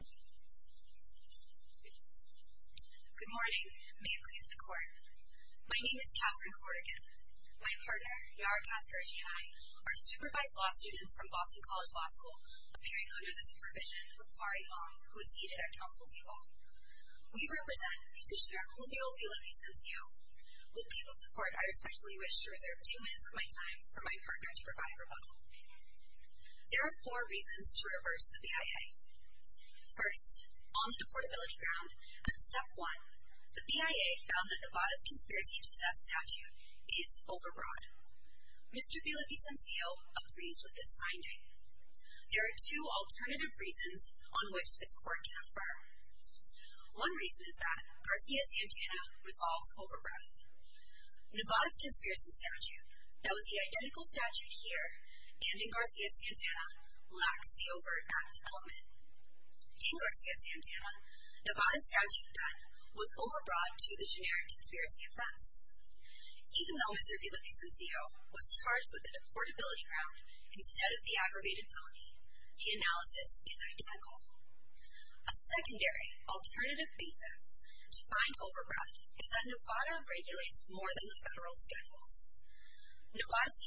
Good morning. May it please the court. My name is Katherine Corrigan. My partner, Yara Cascarigi, and I are supervised law students from Boston College Law School, appearing under the supervision of Kari Long, who is seated at counsel table. We represent Petitioner Julio Villavicencio. With leave of the court, I respectfully wish to reserve two minutes of my time for my partner to provide a rebuttal. There are four reasons to reverse the BIA. First, on the deportability ground, at step one, the BIA found that Nevada's conspiracy to possess statute is overbroad. Mr. Villavicencio agrees with this finding. There are two alternative reasons on which this court can affirm. One reason is that Garcia-Santana resolves overbroad. Nevada's conspiracy statute, that was the identical statute here and in Garcia-Santana, lacks the overt act element. In Garcia-Santana, Nevada's statute then was overbroad to the generic conspiracy offense. Even though Mr. Villavicencio was charged with the deportability ground instead of the aggravated felony, the analysis is identical. A secondary alternative basis to find overbroad is that Nevada regulates more than the federal schedules. Nevada's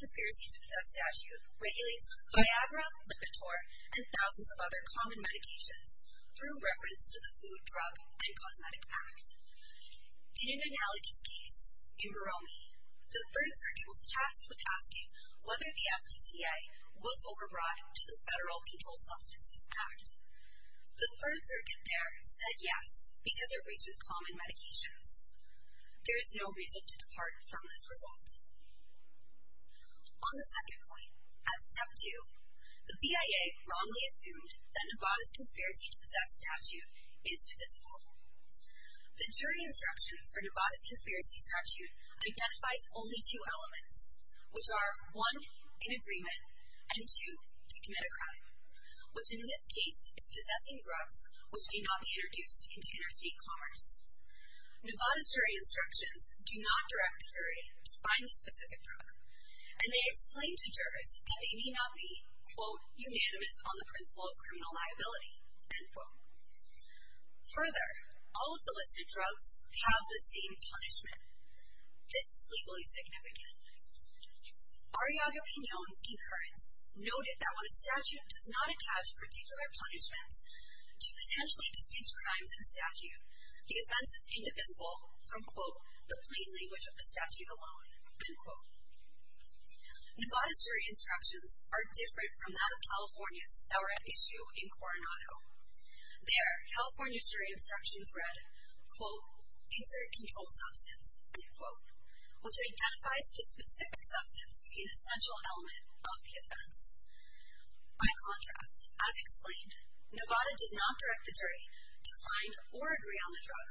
and thousands of other common medications through reference to the Food, Drug, and Cosmetic Act. In an analogy's case, in Baromi, the 3rd Circuit was tasked with asking whether the FTCA was overbroad to the Federal Controlled Substances Act. The 3rd Circuit there said yes because it reaches common medications. There is no reason to depart from this result. On the second point, at step 2, the BIA wrongly assumed that Nevada's conspiracy to possess statute is divisible. The jury instructions for Nevada's conspiracy statute identifies only two elements, which are 1. in agreement and 2. to commit a crime, which in this case is possessing drugs which may not be introduced into interstate commerce. Nevada's jury instructions do not direct the jury to find a specific drug, and they explain to jurors that they may not be, quote, unanimous on the principle of criminal liability, end quote. Further, all of the listed drugs have the same punishment. This is legally significant. Ariaga-Pinon's concurrence noted that when a statute does not attach particular punishments to potentially distinct crimes in a statute, the offense is divisible from, quote, the plain language of the statute alone, end quote. Nevada's jury instructions are different from that of California's that were at issue in Coronado. There, California's jury instructions read, quote, insert controlled substance, end quote, which identifies the specific substance to be an essential element of the offense. By contrast, as explained, Nevada does not direct the jury to find or agree on the drug,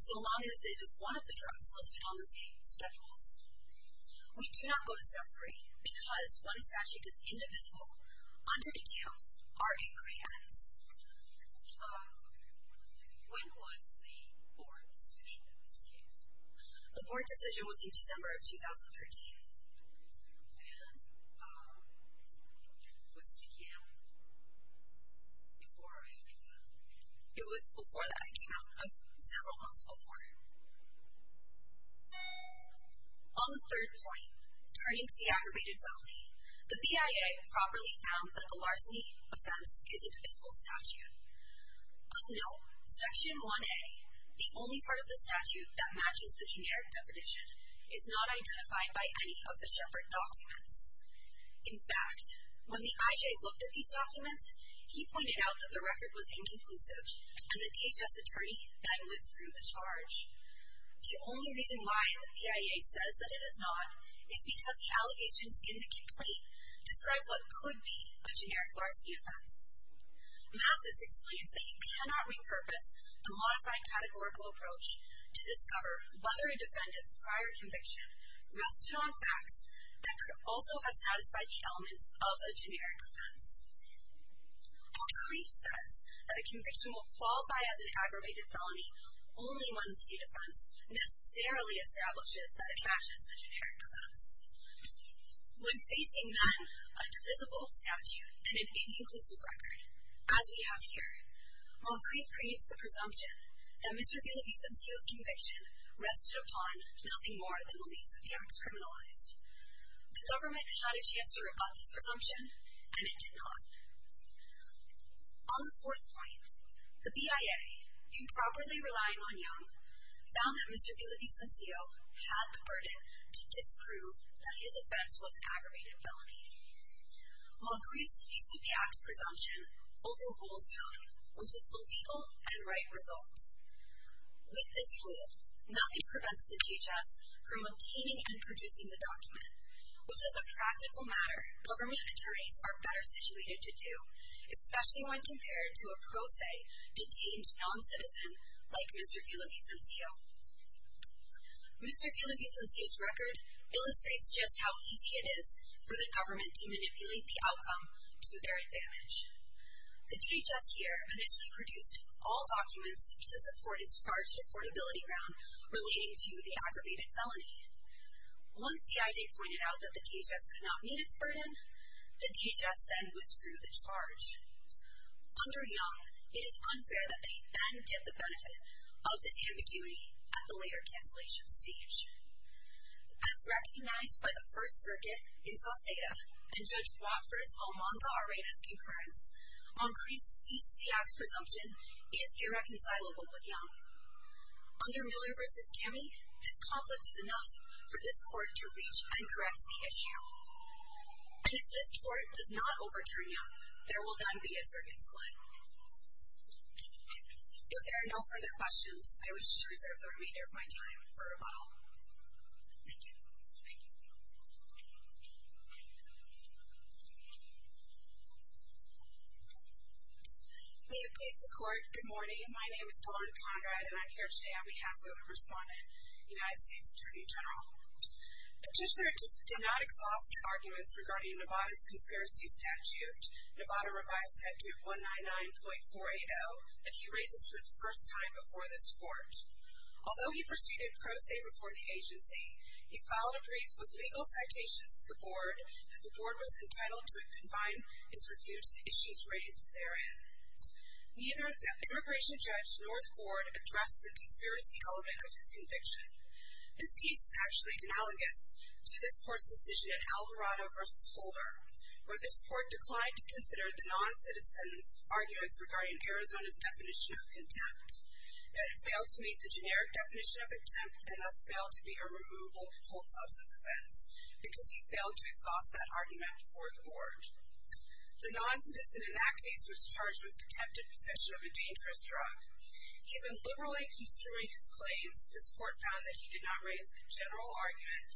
so long as it is one of the drugs listed on the same schedules. We do not go to step 3 because when a statute is indivisible under DECAM, our inquiry ends. When was the board decision in this case? The board decision was in December of 2013, and it was DECAM before Ariaga-Pinon. It was before that. It came out several months before. On the third point, turning to the aggravated felony, the BIA properly found that the larceny offense is a divisible statute. Of note, Section 1A, the only part of the statute that matches the generic definition, is not identified by any of the Shepard documents. In fact, when the IJ looked at these documents, he pointed out that the record was inconclusive, and the DHS attorney then withdrew the charge. The only reason why the BIA says that it is not is because the allegations in the complaint describe what could be a generic larceny offense. Mathis explains that you cannot re-purpose a modified categorical approach to discover whether a defendant's prior conviction rested on facts that could also have satisfied the elements of a generic offense. While Kreef says that a conviction will qualify as an aggravated felony, only one state defense necessarily establishes that it matches the generic offense. When facing then a divisible statute and an aggravated felony, Kreef creates the presumption that Mr. Villavicencio's conviction rested upon nothing more than the Least of the Acts criminalized. The government had a chance to rebut this presumption, and it did not. On the fourth point, the BIA, improperly relying on Young, found that Mr. Villavicencio had the burden to disprove that his offense was an aggravated felony. While Kreef's Least of the Acts presumption overholds Young, which is the legal and right result. With this rule, Mathis prevents the DHS from obtaining and producing the document, which is a practical matter government attorneys are better situated to do, especially when compared to a pro se, detained non-citizen like Mr. Villavicencio. Mr. Villavicencio's record illustrates just how easy it is for the government to manipulate the DHS, which had initially produced all documents to support its charge to portability ground relating to the aggravated felony. Once the IJ pointed out that the DHS could not meet its burden, the DHS then withdrew the charge. Under Young, it is unfair that they then get the benefit of this ambiguity at the later cancellation stage. As recognized by the First Circuit in Sauceda, and Judge Watford's Almanza Arenas concurrence, on Kreef's Least of the Acts presumption is irreconcilable with Young. Under Miller v. Gammey, this conflict is enough for this court to reach and correct the issue. And if this court does not overturn Young, there will then be a circuit split. If there are no further questions, I wish to reserve the remainder of my time for rebuttal. Thank you. May it please the Court, good morning. My name is Dawn Conrad, and I'm here today on behalf of a respondent, United States Attorney General. Petitioner did not exhaust arguments regarding Nevada's conspiracy statute, Nevada Revised Statute 199.480, that he raises for the first time before this court. Although he proceeded pro se before the agency, he filed a brief with legal citations to the board that the board was raised therein. Neither immigration judge nor the board addressed the conspiracy element of his conviction. This case is actually analogous to this court's decision in Alvarado v. Holder, where this court declined to consider the non-citizen's arguments regarding Arizona's definition of contempt. That it failed to meet the generic definition of contempt, and thus failed to be a removable cold substance offense, because he failed to exhaust that argument before the board. The non-citizen in that case was charged with contempt of possession of a dangerous drug. Given liberally construing his claims, this court found that he did not raise a general argument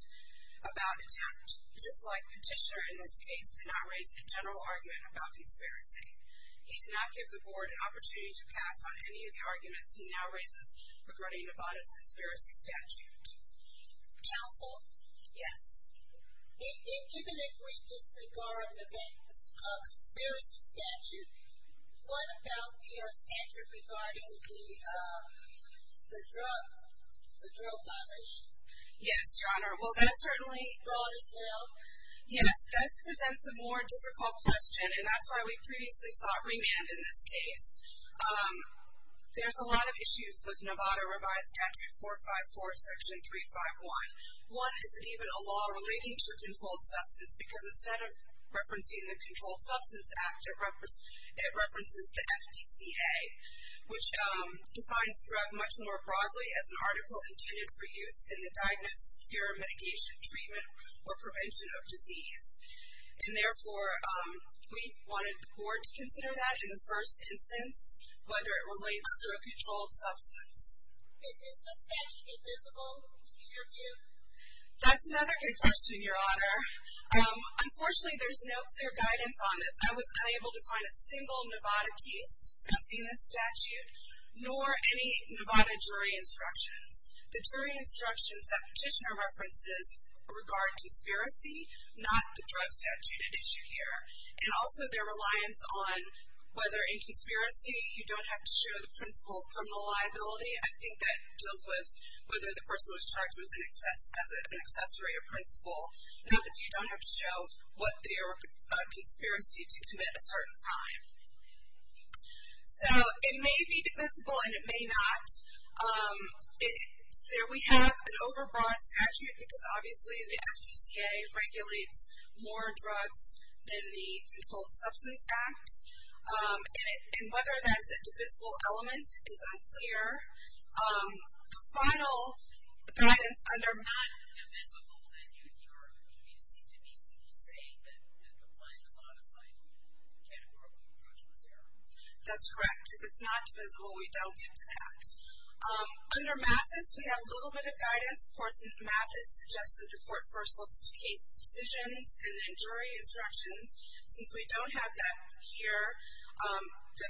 about contempt, just like Petitioner in this case did not raise a general argument about conspiracy. He did not give the board an opportunity to pass on any of the arguments he now raises regarding Nevada's conspiracy statute. Counsel? Yes. If given a great disregard of a conspiracy statute, what about the statute regarding the drug, the drug violation? Yes, Your Honor. Well, that's certainly- The law is failed? Yes, that presents a more difficult question, and that's why we previously sought remand in this case. There's a lot of issues with Nevada Revised Statute 454, Section 351. One is it even a law relating to a controlled substance, because instead of referencing the Controlled Substance Act, it references the FDCA, which defines drug much more broadly as an article intended for use in the diagnosis, cure, mitigation, treatment, or prevention of disease. And therefore, we wanted the board to consider that in the first instance, whether it relates to a controlled substance. Is the statute invisible, in your view? That's another good question, Your Honor. Unfortunately, there's no clear guidance on this. I was unable to find a single Nevada case discussing this statute, nor any Nevada jury instructions. The jury instructions that Petitioner references regard conspiracy, not the drug statute at issue here, and also their reliance on whether in conspiracy you don't have to show the principle of criminal liability. I think that deals with whether the person was charged with an accessory or principle, not that you don't have to show what their conspiracy to commit a certain crime. So, it may be divisible, and it may not. There we have an overbroad statute, because obviously the FDCA regulates more drugs than the Controlled Substance Act. And whether that's a divisible element is unclear. The final guidance under- If it's not divisible, then you seem to be saying that applying the modified categorical approach was erroneous. That's correct. If it's not divisible, we don't get to that. Under Mathis, we have a little bit of guidance. Of course, Mathis suggested the court first looks to case decisions and then jury instructions. Since we don't have that here,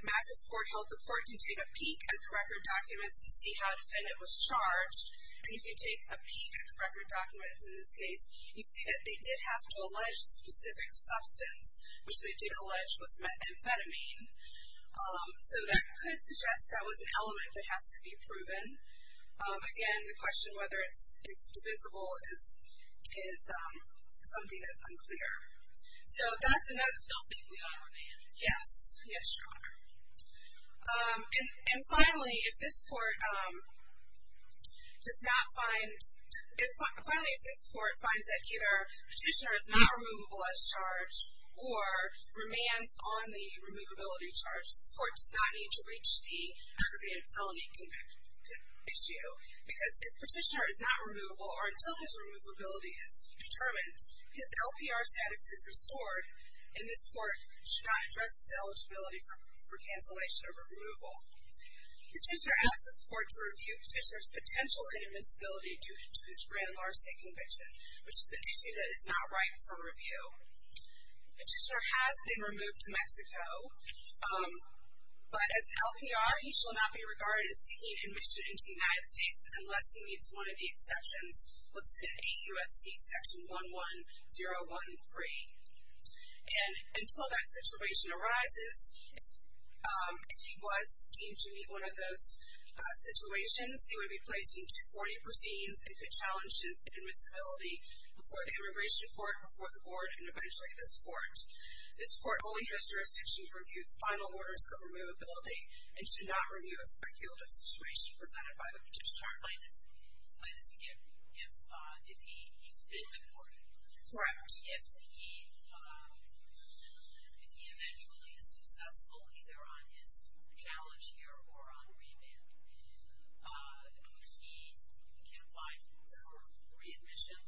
Mathis court held the court can take a peek at the record documents to see how the defendant was charged. And if you take a peek at the record documents, in this case, you see that they did have to allege a specific substance, which they did allege was methamphetamine. So, that could suggest that was an element that has to be proven. Again, the question whether it's divisible is something that's unclear. So, that's another- I don't think we have a remand. Yes. Yes, Your Honor. And finally, if this court does not find- Finally, if this court finds that either the petitioner is not removable as charged or remands on the removability charge, this court does not need to reach the issue because if petitioner is not removable or until his removability is determined, his LPR status is restored and this court should not address his eligibility for cancellation or removal. Petitioner asks this court to review petitioner's potential inadmissibility due to his grand larceny conviction, which is an issue that is not ripe for review. Petitioner has been unless he meets one of the exceptions listed in AUSD section 11013. And until that situation arises, if he was deemed to meet one of those situations, he would be placed in 240 proceedings if it challenges admissibility before the immigration court, before the board, and eventually this court. This court only has jurisdiction to review final orders for removability and should not apply this again if he's been deported. Correct. If he eventually is successful either on his challenge here or on remand, he can apply for readmission.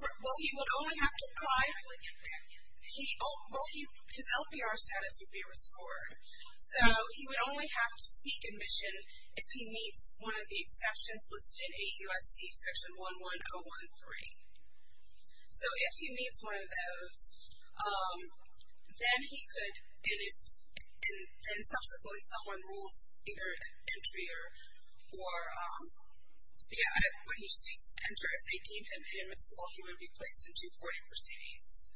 Well, he would only have to apply- I can't hear you. Well, his LPR status would be restored. So, he would only have to seek readmission if he meets one of the exceptions listed in AUSD section 11013. So, if he meets one of those, then he could, and subsequently someone rules either entry or, yeah, what he seeks to enter if they deem him inadmissible, he would be placed in 240 proceedings.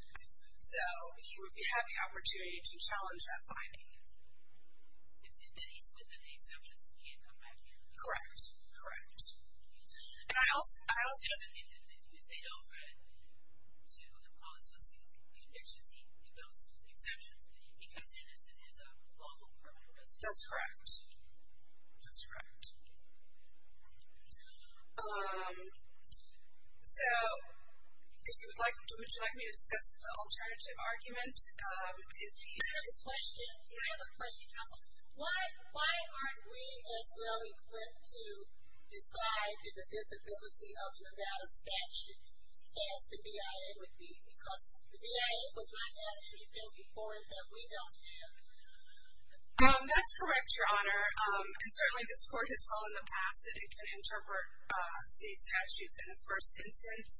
So, he would have the If he's within the exceptions, he can't come back here? Correct, correct. And I also- If they don't try to impose those conditions, if those exceptions, he comes in as a lawful permanent resident? That's correct, that's correct. So, would you like me to discuss the alternative argument? I have a question, counsel. Why aren't we as well equipped to decide in the visibility of Nevada statutes as the BIA would be? Because the BIA has not had anything before that we don't have. That's correct, your honor, and certainly this court has called in the past that it can interpret state statutes in the first instance.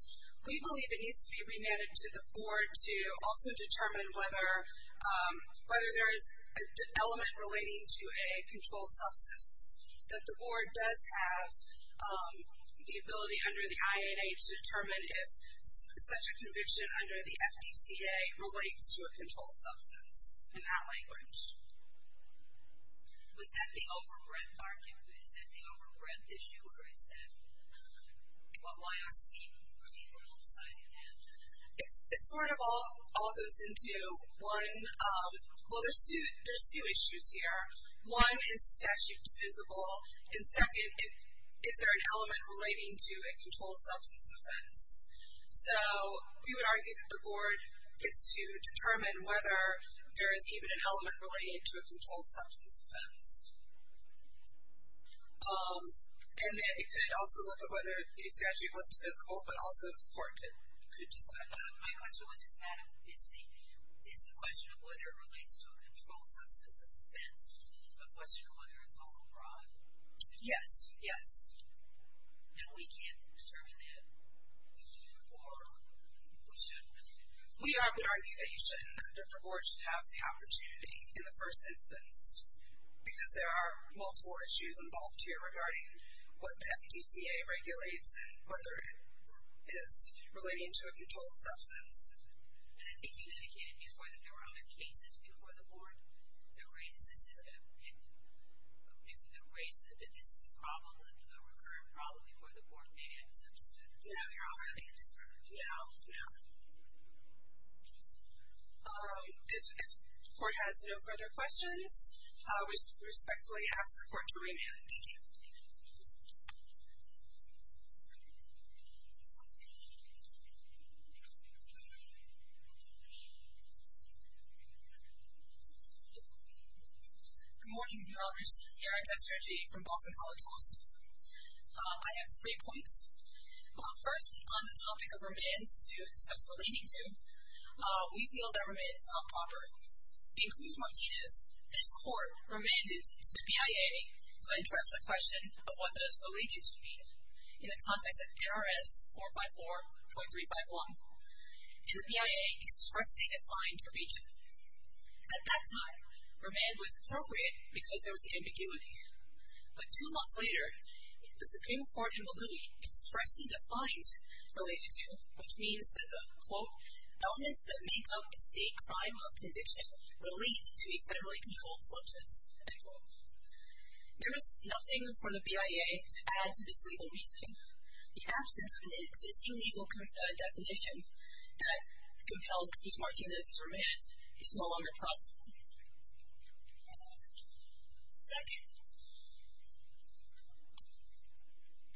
We believe it needs to be for the board to also determine whether there is an element relating to a controlled substance. That the board does have the ability under the IAA to determine if such a conviction under the FDCA relates to a controlled substance in that language. Was that the overbreadth argument? Is that the It sort of all goes into one, well there's two issues here. One, is the statute divisible? And second, is there an element relating to a controlled substance offense? So, we would argue that the board gets to determine whether there is even an element related to a controlled substance offense. And it could also look at whether the statute was divisible, but also the court could My question was, is the question of whether it relates to a controlled substance offense a question of whether it's overbroad? Yes, yes. And we can't determine that or we shouldn't? We argue that you shouldn't, that the board should have the opportunity in the first instance because there are multiple issues involved here regarding what the FDCA regulates and whether it relating to a controlled substance. And I think you indicated before that there were other cases before the board that raised this, that this is a problem, a recurrent problem before the board maybe I misunderstood. Yeah, yeah. If the court has no further questions, we respectfully ask the board to close the hearing. Good morning, Your Honors. Erin Kesterje from Boston College Law School. I have three points. First, on the topic of remands to discuss relating to, we feel that remand is not proper. In Cruz-Martinez, this court remanded to the BIA to address the question of whether it's related in the context of NRS 454.351. And the BIA expressly declined to reach it. At that time, remand was appropriate because there was ambiguity. But two months later, the Supreme Court in Malooey expressly defined related to, which means that the, quote, elements that make up a state crime of conviction relate to a federally controlled substance. And, quote, there is nothing for the BIA to add to this legal reasoning. The absence of an existing legal definition that compelled Cruz-Martinez to remand is no longer possible. Second,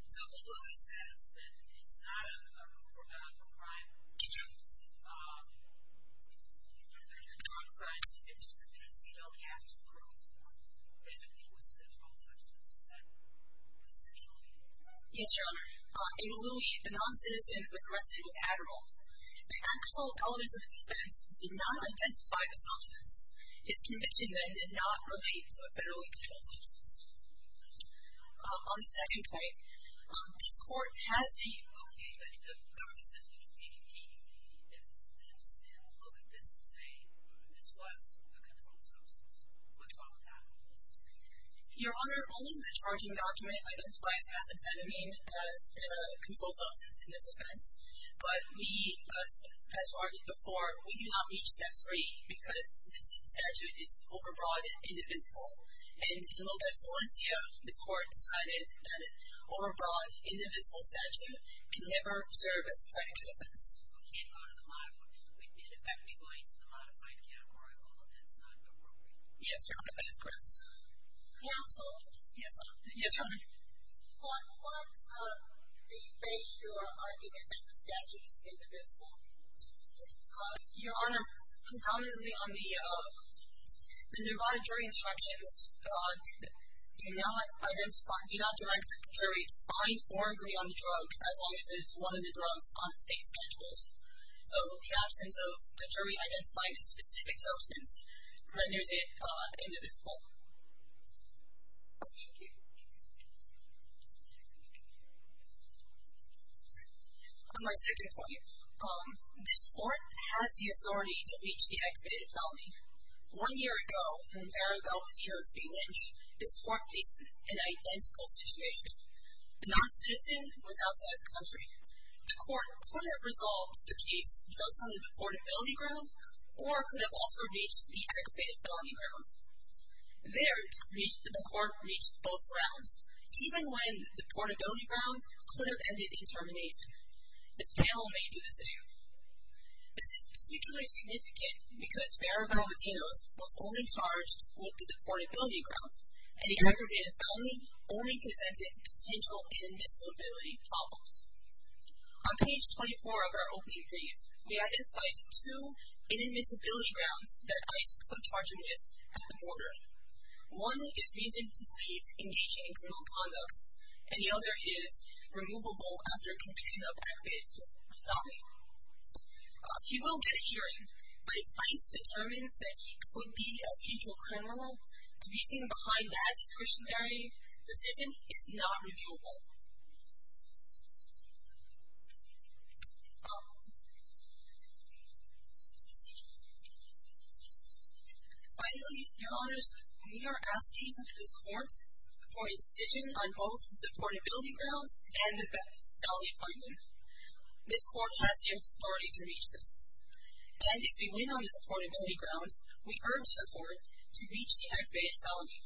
Double Louis says that it's not a criminal crime to be interested in. You don't have to prove that it was a controlled substance. Is that essentially correct? Yes, Your Honor. In Malooey, the non-citizen was arrested with Adderall. The actual elements of his defense did not identify the substance. His conviction then did not relate to a federally controlled substance. On the second point, this court has stated, okay, the government says we can take a peek if it's, and look at this and say this was a controlled substance. What's wrong with that? Your Honor, only the charging document identifies methamphetamine as a controlled substance in this offense. But we, as argued before, we do not meet step three because this statute is overbroad indivisible. And in Lopez Valencia, this court decided that an overbroad, indivisible statute can never serve as a critical defense. We can't go to the modified, we'd be effectively going to the modified category although that's not appropriate. Yes, Your Honor, that is correct. Counsel? Yes, Your Honor. What, what, uh, do you base your argument that the statute is indivisible? Your Honor, predominantly on the divided jury instructions, do not identify, do not direct jury to find or agree on the drug as long as it is one of the drugs on state schedules. So, the absence of the jury identifying a specific substance renders it indivisible. Thank you. On my second point, um, this court has the authority to reach the aggravated felony. One year ago, in an area dealt with here as B Lynch, this court faced an identical situation. The non-citizen was outside the country. The court could have resolved the case just on the border. There, the court reached both grounds, even when the deportability grounds could have ended in termination. This panel may do the same. This is particularly significant because Vera Valentino was only charged with the deportability grounds and the aggravated felony only presented potential inadmissibility problems. On page 24 of our opening brief, we identified two inadmissibility grounds that ICE could charge him with at the border. One is reason to believe engaging in criminal conduct, and the other is removable after conviction of aggravated felony. He will get a hearing, but if ICE determines that he could be a future criminal, the reasoning behind that discretionary decision is not reviewable. Finally, your honors, we are asking this court for a decision on both the deportability grounds and the felony finding. This court has the authority to reach this, and if we win on the deportability grounds, we urge the court to reach the aggravated felony.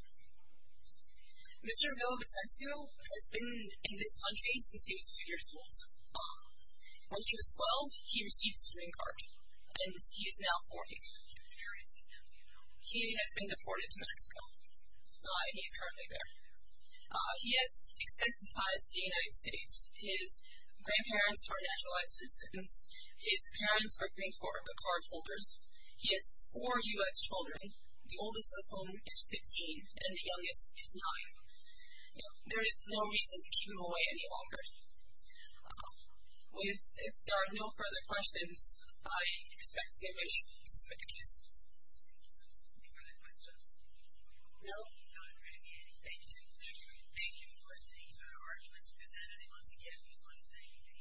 Mr. Villavicencio has been in this country since he was two years old. When he was 12, he received the green card, and he is now 40. He has been deported to Mexico. He is currently there. He has extensive ties to the United States. His grandparents are naturalized citizens. His parents are green card holders. He has four U.S. children, the oldest of whom is 15, and the youngest is 9. There is no reason to keep him away any longer. If there are no further questions, I respectfully wish to submit the case. Any further questions? No? No, there are going to be any. Thank you. Thank you for the arguments presented, and once again, we want to thank the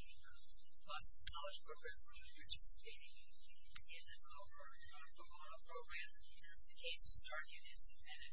Boston College Program for participating in the call for a pro bono program. We have the case to start, and it is submitted.